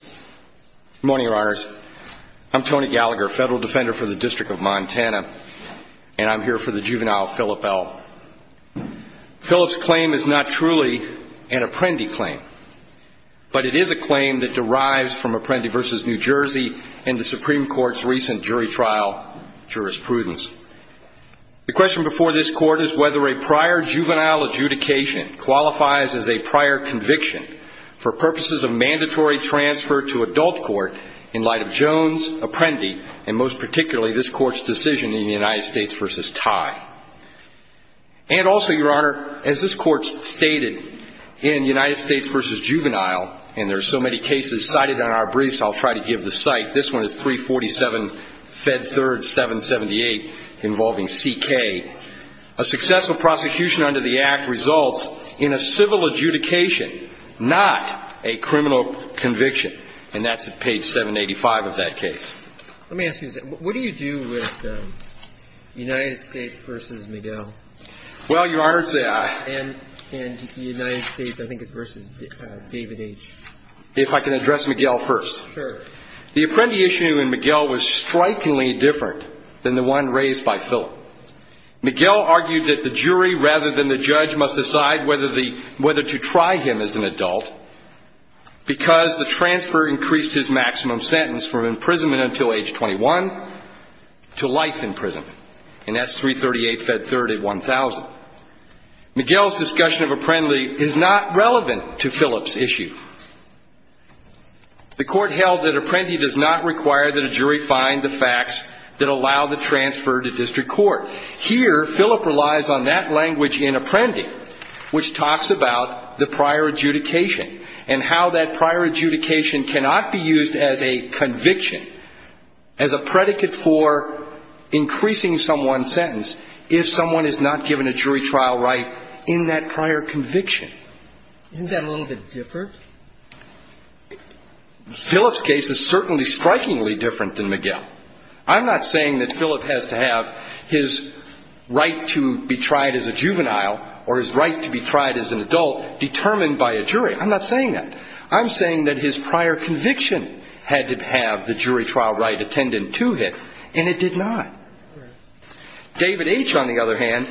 Good morning, your honors. I'm Tony Gallagher, federal defender for the District of Montana, and I'm here for the juvenile Philip L. Philip's claim is not truly an Apprendi claim, but it is a claim that derives from Apprendi v. New Jersey and the Supreme Court's recent jury trial jurisprudence. The question before this court is whether a prior juvenile adjudication qualifies as a prior conviction for purposes of mandatory transfer to adult court in light of Jones, Apprendi, and most particularly this court's decision in the United States v. Tye. And also, your honor, as this court stated in United States v. Juvenile, and there are so many cases cited on our briefs, I'll try to give the site. This one is 347 Fed 3rd 778 involving C.K. A successful prosecution under the act results in a civil adjudication, not a criminal conviction, and that's page 785 of that case. Let me ask you, what do you do with United States v. Miguel? Well, your honor, and United States, I think it's v. David H. If I can address Miguel first. Sure. The Apprendi issue in Miguel was strikingly different than the one raised by Philip. Miguel argued that the jury rather than the judge must decide whether the whether to try him as an adult because the transfer increased his maximum sentence from imprisonment until age 21 to life in prison, and that's 338 Fed 3rd at 1000. Miguel's discussion of Apprendi is not relevant to Philip's issue. The court held that Apprendi does not require that a jury find the facts that allow the transfer to district court. Here, Philip relies on that language in Apprendi, which talks about the prior adjudication and how that prior adjudication cannot be used as a conviction, as a predicate for increasing someone's sentence, if someone is not given a jury trial right in that prior conviction. Isn't that a little bit different? Philip's case is certainly strikingly different than Miguel. I'm not saying that Philip has to have his right to be tried as a juvenile or his right to be tried as an adult determined by a jury. I'm not saying that. I'm saying that his prior conviction had to have the jury trial right attended to him, and it did not. David H., on the other hand,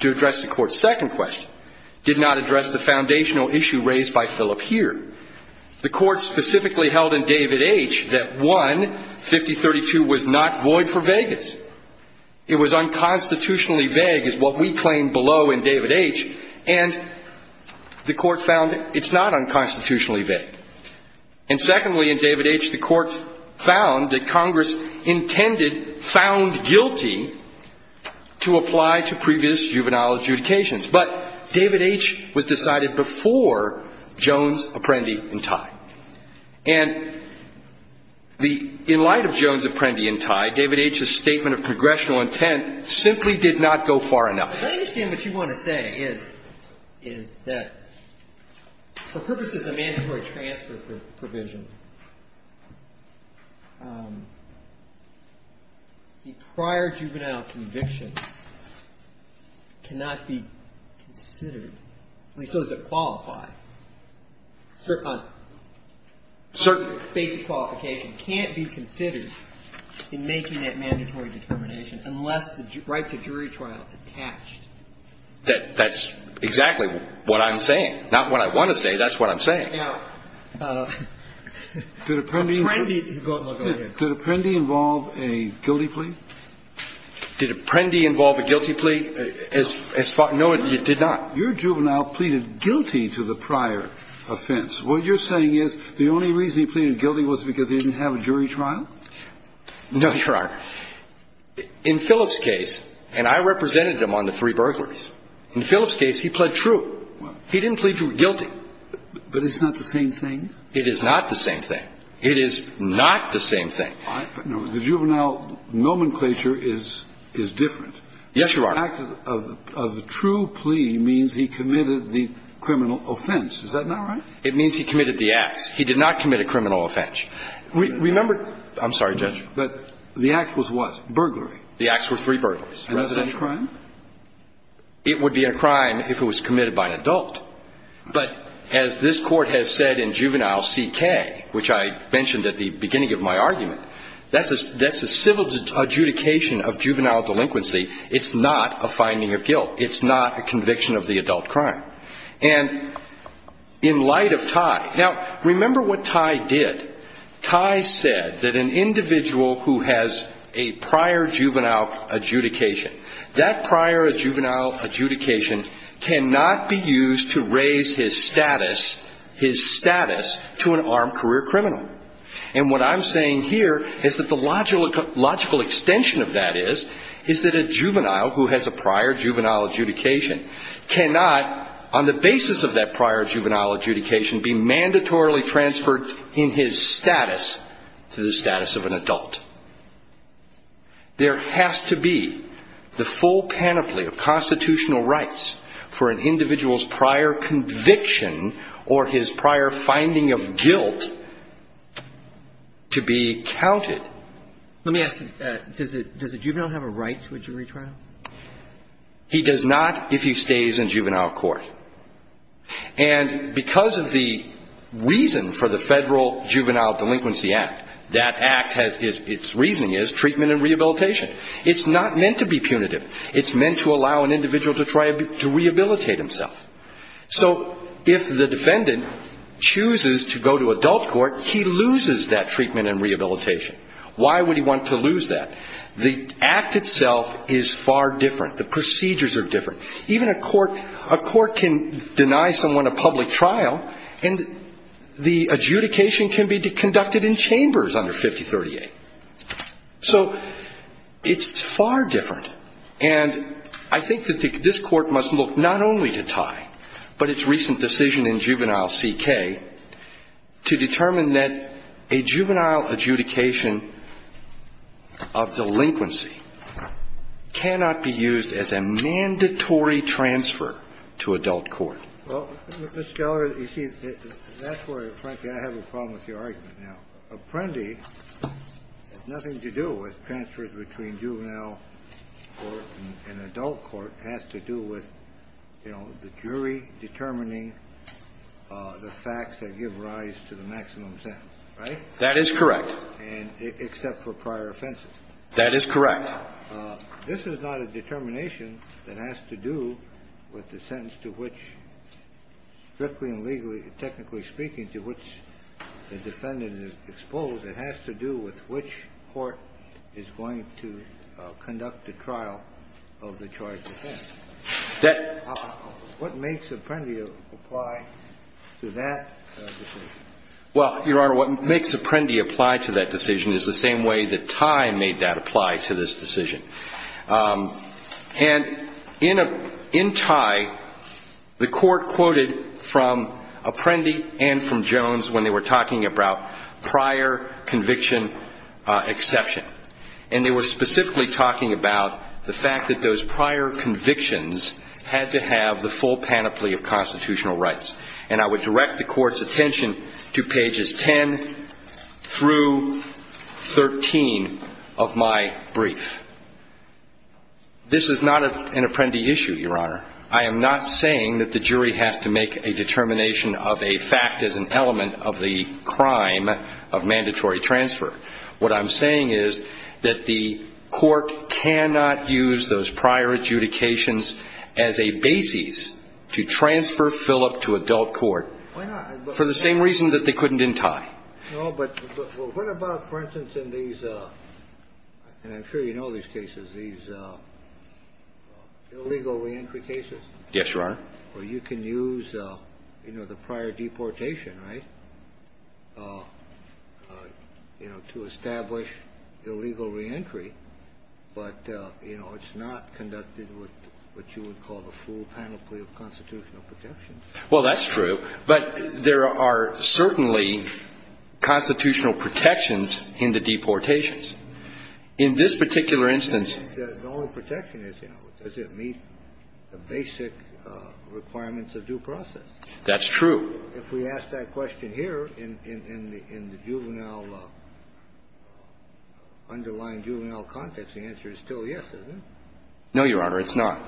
to address the court's second question, did not address the foundational issue raised by Philip here. The court specifically held in David H. that, one, 5032 was not void for vagas. It was unconstitutionally vague, is what we claim below in David H., and the court found it's not unconstitutionally vague. And secondly, in David H., the court found that Congress intended, found guilty, to apply to previous juvenile adjudications. But David H. was decided before Jones, Apprendi, and Tye. And the, in light of Jones, Apprendi, and Tye, David H.'s statement of congressional intent simply did not go far enough. But I understand what you want to say is, is that for purposes of mandatory transfer provision, the prior juvenile conviction cannot be considered, at least those that qualify, certain basic qualifications can't be considered in making that mandatory determination unless the right to jury trial attached. That's exactly what I'm saying. Not what I want to say. That's what I'm saying. Did Apprendi involve a guilty plea? Did Apprendi involve a guilty plea? No, it did not. Your juvenile pleaded guilty to the prior offense. What you're saying is the only reason he pleaded guilty was because he didn't have a jury trial? No, Your Honor. In Philip's case, and I represented him on the three burglaries. In Philip's case, he pled true. He didn't plead guilty. But it's not the same thing? It is not the same thing. It is not the same thing. The juvenile nomenclature is different. Yes, Your Honor. The fact of the true plea means he committed the criminal offense. Is that not right? It means he committed the acts. He did not commit a criminal offense. Remember, I'm sorry, Judge. But the act was what? Burglary. The acts were three burglars. And is that a crime? It would be a crime if it was committed by an adult. But as this Court has said in Juvenile C.K., which I mentioned at the beginning of my argument, that's a civil adjudication of juvenile delinquency. It's not a finding of guilt. It's not a conviction of the adult crime. And in light of Tye. Now, remember what Tye did. Tye said that an individual who has a prior juvenile adjudication, that prior juvenile adjudication cannot be used to raise his status, his status to an armed career criminal. And what I'm saying here is that the logical extension of that is, is that a juvenile who has a prior juvenile adjudication cannot, on the basis of that prior juvenile adjudication, be mandatorily transferred in his status to the status of an There has to be the full panoply of constitutional rights for an individual's prior conviction or his prior finding of guilt to be counted. Let me ask you, does a juvenile have a right to a jury trial? He does not if he stays in juvenile court. And because of the reason for and rehabilitation. It's not meant to be punitive. It's meant to allow an individual to try to rehabilitate himself. So if the defendant chooses to go to adult court, he loses that treatment and rehabilitation. Why would he want to lose that? The act itself is far different. The procedures are different. Even a court, a court can deny someone a public trial and the adjudication can conducted in chambers under 5038. So it's far different. And I think that this Court must look not only to Tye, but its recent decision in Juvenile C.K. to determine that a juvenile adjudication of delinquency cannot be used as a mandatory transfer to adult court. Well, Mr. Geller, you see, that's where, frankly, I have a problem with your argument now. Apprendi has nothing to do with transfers between juvenile court and adult court. It has to do with, you know, the jury determining the facts that give rise to the maximum sentence, right? That is correct. And except for prior offenses. That is correct. But this is not a determination that has to do with the sentence to which, strictly and legally, technically speaking, to which the defendant is exposed. It has to do with which court is going to conduct the trial of the charged offender. That — What makes Apprendi apply to that decision? Well, Your Honor, what makes Apprendi apply to that decision is the same way that Tye made that apply to this decision. And in Tye, the Court quoted from Apprendi and from Jones when they were talking about prior conviction exception. And they were specifically talking about the fact that those prior convictions had to have the full panoply of my brief. This is not an Apprendi issue, Your Honor. I am not saying that the jury has to make a determination of a fact as an element of the crime of mandatory transfer. What I'm saying is that the Court cannot use those prior adjudications as a basis to transfer Philip to adult court for the same reason that they couldn't in Tye. No, but what about, for instance, in these — and I'm sure you know these cases — these illegal reentry cases? Yes, Your Honor. Where you can use, you know, the prior deportation, right, you know, to establish illegal reentry, but, you know, it's not conducted with what you would call the full panoply of constitutional protection. Well, that's true. But there are certainly constitutional protections in the deportations. In this particular instance — The only protection is, you know, does it meet the basic requirements of due process? That's true. If we ask that question here in the juvenile — underlying juvenile context, the answer is still yes, isn't it? No, Your Honor, it's not.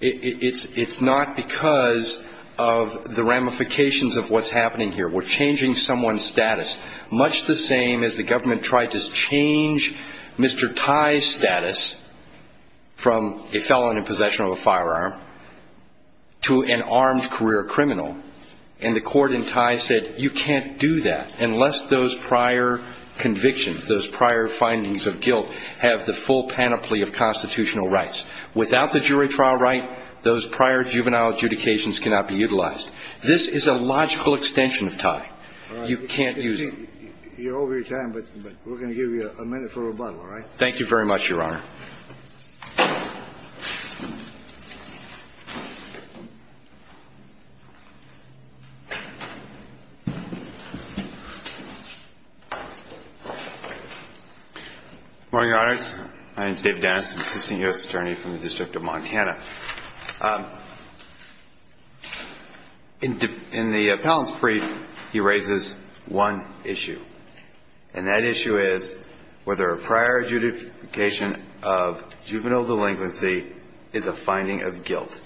It's not because of the ramifications of what's happening here. We're changing someone's status, much the same as the government tried to change Mr. Tye's status from a felon in possession of a firearm to an armed career criminal. And the Court in Tye said, you can't do that unless those prior convictions, those prior findings of guilt, have the full panoply of constitutional rights. Without the jury trial right, those prior juvenile adjudications cannot be utilized. This is a logical extension of Tye. You can't use — You're over your time, but we're going to give you a minute for rebuttal, all right? Thank you very much, Your Honor. Good morning, Your Honors. My name is David Dennis. I'm an assistant U.S. attorney from the District of Montana. In the appellant's brief, he raises one issue, and that issue is whether a prior adjudication of juvenile delinquency is a finding of guilt.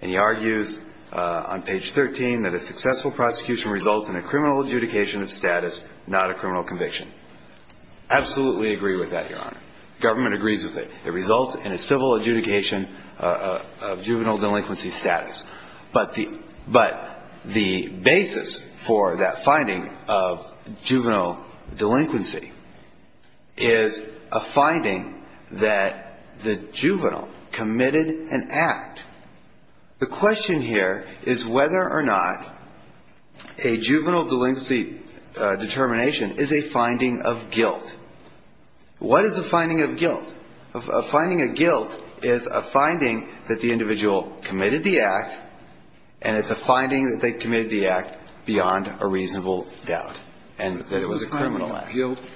And he argues on page 13 that a successful prosecution results in a criminal adjudication of status, not a criminal conviction. Absolutely agree with that, Your Honor. Government agrees with it. It results in a civil adjudication of juvenile delinquency status. But the basis for that finding of juvenile delinquency is a finding that the juvenile committed an act. The question here is whether or not a juvenile delinquency determination is a finding of guilt. What is a finding of guilt? A finding of guilt is a finding that the individual committed the act, and it's a finding that they committed the act beyond a reasonable doubt, and that it was a criminal act. Is the finding of guilt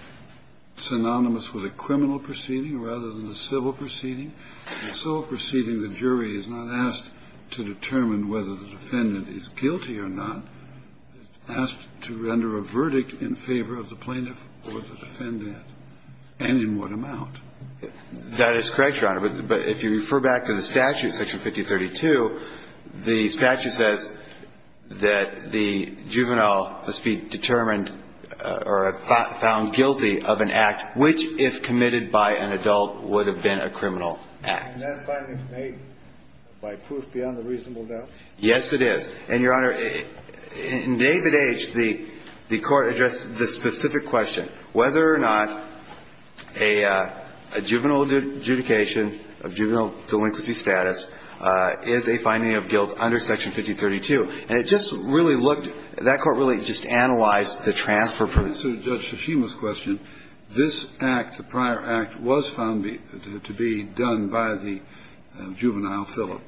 synonymous with a criminal proceeding rather than a civil proceeding? In a civil proceeding, the jury is not asked to determine whether the defendant is guilty or not. It's asked to render a verdict in favor of the plaintiff or the defendant and in what amount. That is correct, Your Honor. But if you refer back to the statute, section 5032, the statute says that the juvenile must be determined or found guilty of an act which, if committed by an adult, would have been a criminal act. And that finding may, by proof, be on the reasonable doubt? Yes, it is. And, Your Honor, in David H., the Court addressed the specific question. Whether or not a juvenile adjudication of juvenile delinquency status is a finding of guilt under section 5032. And it just really looked – that Court really just analyzed the transfer proof. And in answer to Judge Tsushima's question, this act, the prior act, was found to be done by the juvenile, Philip,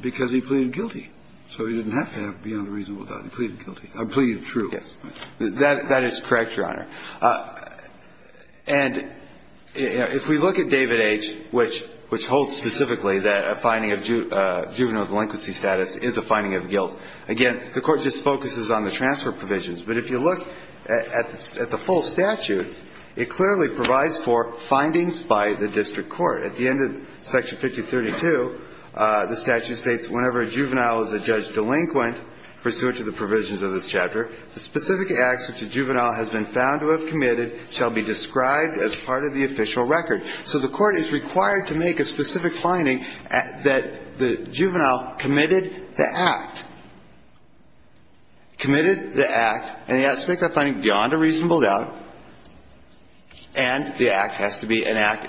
because he pleaded guilty. So he didn't have to have it be on the reasonable doubt. He pleaded guilty. I plead true. Yes. That is correct, Your Honor. And if we look at David H., which holds specifically that a finding of juvenile delinquency status is a finding of guilt, again, the Court just focuses on the transfer provisions. But if you look at the full statute, it clearly provides for findings by the district court. At the end of section 5032, the statute states, whenever a juvenile is a judge delinquent pursuant to the provisions of this chapter, the specific acts which a juvenile has been found to have committed shall be described as part of the official record. So the Court is required to make a specific finding that the juvenile committed the act, committed the act, and he has to make that finding beyond a reasonable doubt. And the act has to be an act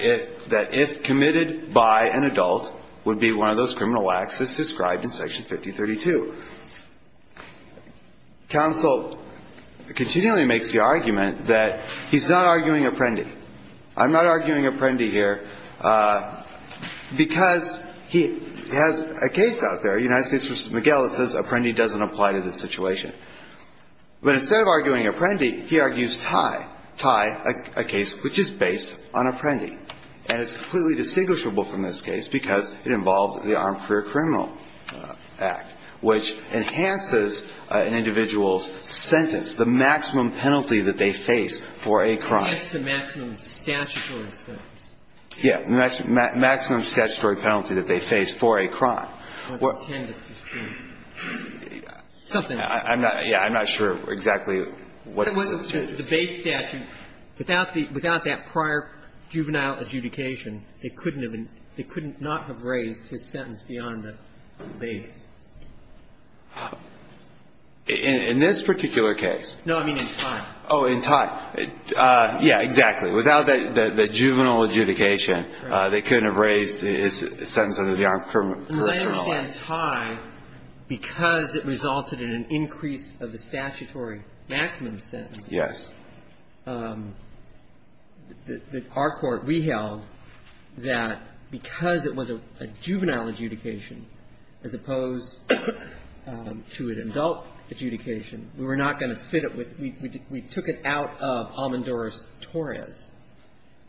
that, if committed by an adult, would be one of those criminal acts as described in section 5032. Counsel continually makes the argument that he's not arguing Apprendi. I'm not arguing Apprendi here because he has a case out there. United States v. McGill that says Apprendi doesn't apply to this situation. But instead of arguing Apprendi, he argues Ty, Ty, a case which is based on Apprendi. And it's completely distinguishable from this case because it involves the Armed Career Criminal Act, which enhances an individual's sentence, the maximum penalty that they face for a crime. It's the maximum statutory sentence. Yeah, maximum statutory penalty that they face for a crime. I'm not sure exactly what the statute is. The base statute, without that prior juvenile adjudication, they couldn't have been – they could not have raised his sentence beyond the base. In this particular case? No, I mean in Ty. Oh, in Ty. Yeah, exactly. Without that juvenile adjudication, they couldn't have raised his sentence under the Armed Career Criminal Act. I understand Ty, because it resulted in an increase of the statutory maximum sentence. Yes. That our Court reheld that because it was a juvenile adjudication as opposed to an adult adjudication, we were not going to fit it with – we took it out of Almendores-Torres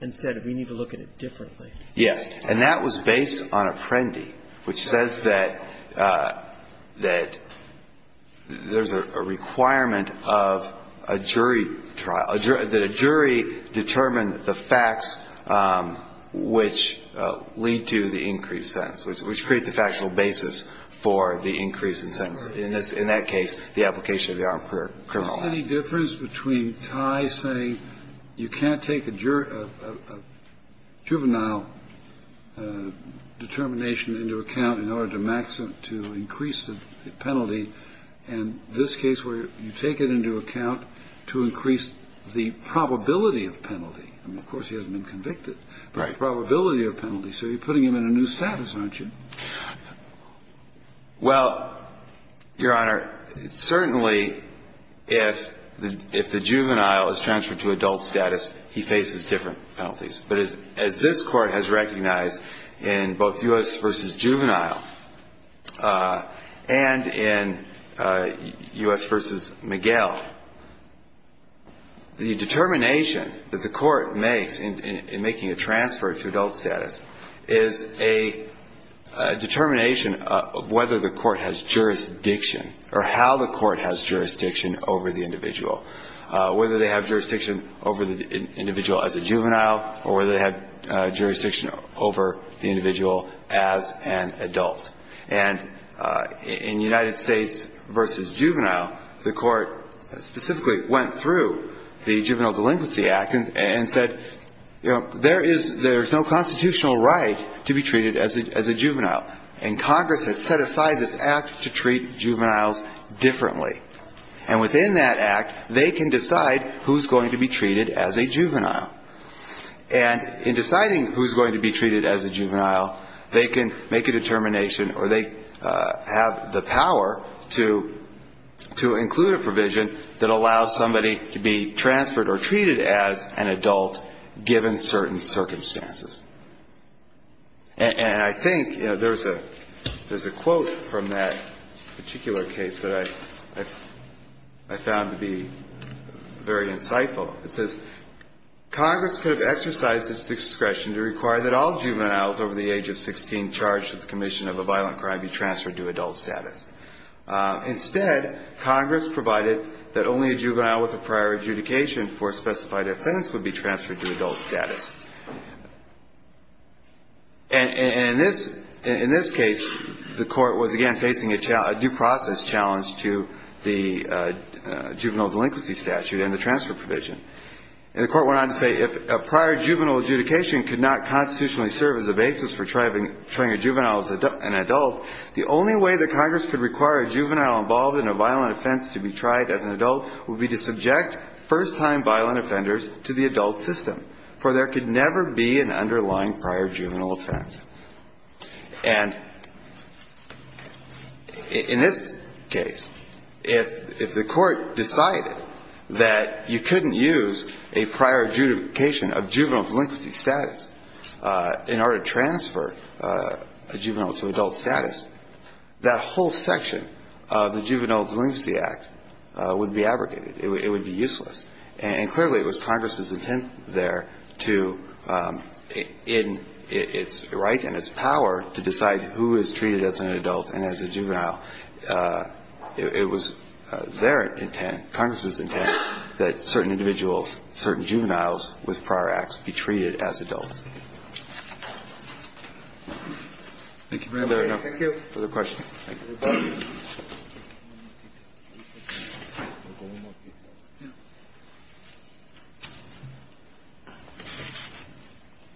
and said we need to look at it differently. Yes. And that was based on Apprendi, which says that there's a requirement of a jury trial – that a jury determine the facts which lead to the increased sentence, which create the factual basis for the increase in sentence. In that case, the application of the Armed Career Criminal Act. Any difference between Ty saying you can't take a juvenile determination into account in order to increase the penalty, and this case where you take it into account to increase the probability of penalty? I mean, of course, he hasn't been convicted. Right. Probability of penalty. So you're putting him in a new status, aren't you? Well, Your Honor, certainly if the juvenile is transferred to adult status, he faces different penalties. But as this Court has recognized in both U.S. v. Juvenile and in U.S. v. Miguel, the determination that the Court makes in making a transfer to adult status is a determination of whether the Court has jurisdiction or how the Court has jurisdiction over the individual, whether they have jurisdiction over the individual as a juvenile or whether they have jurisdiction over the individual as an adult. And in United States v. Juvenile, the Court specifically went through the Juvenile Delinquency Act and said, you know, there is – there's no constitutional right to be treated as a juvenile. And Congress has set aside this act to treat juveniles differently. And within that act, they can decide who's going to be treated as a juvenile. And in deciding who's going to be treated as a juvenile, they can make a determination or they have the power to include a provision that allows somebody to be transferred or treated as an adult given certain circumstances. And I think, you know, there's a – there's a quote from that particular case that I found to be very insightful. It says, Congress could have exercised its discretion to require that all juveniles over the age of 16 charged with the commission of a violent crime be transferred to adult status. Instead, Congress provided that only a juvenile with a prior adjudication for a specified offense would be transferred to adult status. And in this – in this case, the Court was, again, facing a due process challenge to the Juvenile Delinquency Statute and the transfer provision. And the Court went on to say, if a prior juvenile adjudication could not constitutionally serve as a basis for trying a juvenile as an adult, the only way that Congress could require a juvenile involved in a violent offense to be tried as an adult would be to subject first-time violent offenders to the adult system, for there could never be an underlying prior juvenile offense. And in this case, if the Court decided that you couldn't use a prior adjudication of juvenile delinquency status in order to transfer a juvenile to adult status, that whole section of the Juvenile Delinquency Act would be abrogated. It would be useless. And clearly, it was Congress's intent there to – in its right and its power to decide who is treated as an adult and as a juvenile, it was their intent, Congress's intent, that certain individuals, certain juveniles with prior acts be treated as adults. Thank you very much. Thank you. Further questions? The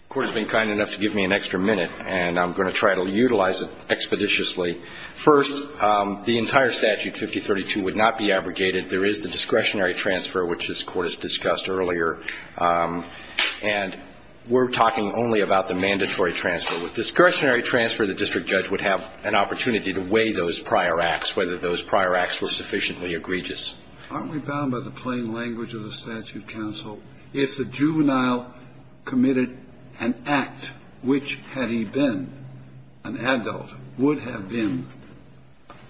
Court has been kind enough to give me an extra minute, and I'm going to try to utilize it expeditiously. First, the entire Statute 5032 would not be abrogated. There is the discretionary transfer, which this Court has discussed earlier. And we're talking only about the mandatory transfer. With discretionary transfer, the district judge would have an opportunity to weigh those prior acts, whether those prior acts were sufficiently egregious. Aren't we bound by the plain language of the statute, counsel, if the juvenile committed an act which, had he been an adult, would have been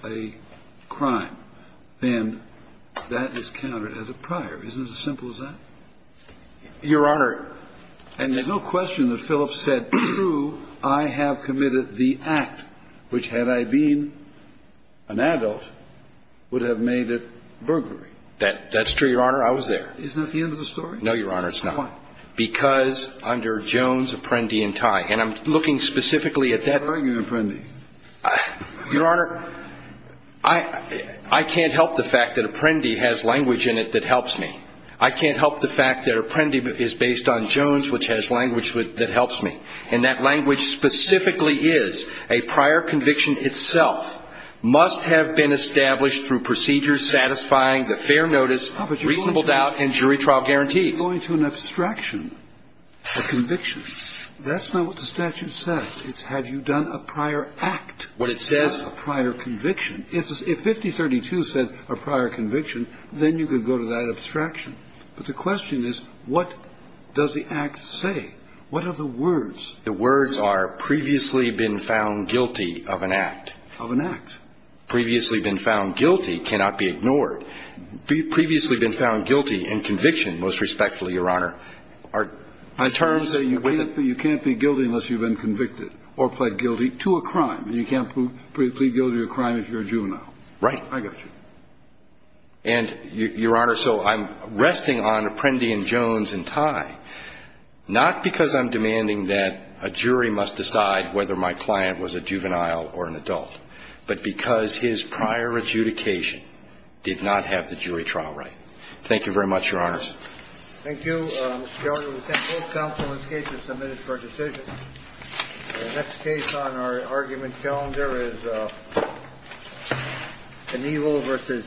a crime, then that is counted as a prior. Isn't it as simple as that? Your Honor, and there's no question that Phillips said, true, I have committed an act which, had I been an adult, would have made it burglary. That's true, Your Honor. I was there. Isn't that the end of the story? No, Your Honor, it's not. Why? Because under Jones, Apprendi, and Tye. And I'm looking specifically at that. What are you arguing, Apprendi? Your Honor, I can't help the fact that Apprendi has language in it that helps me. I can't help the fact that Apprendi is based on Jones, which has language that helps me. And that language specifically is, a prior conviction itself must have been established through procedures satisfying the fair notice, reasonable doubt, and jury trial guarantees. But you're going to an abstraction, a conviction. That's not what the statute says. It's have you done a prior act, not a prior conviction. If 5032 said a prior conviction, then you could go to that abstraction. But the question is, what does the act say? What are the words? The words are previously been found guilty of an act. Of an act. Previously been found guilty cannot be ignored. Previously been found guilty in conviction, most respectfully, Your Honor, are terms You can't be guilty unless you've been convicted or pled guilty to a crime. And you can't plead guilty to a crime if you're a juvenile. Right. I got you. And Your Honor, so I'm resting on Apprendi and Jones in tie. Not because I'm demanding that a jury must decide whether my client was a juvenile or an adult, but because his prior adjudication did not have the jury trial right. Thank you very much, Your Honors. Thank you, Mr. Giorgio. We thank both counsel and cases submitted for decision. The next case on our argument calendar is an evil versus E.S.P.N.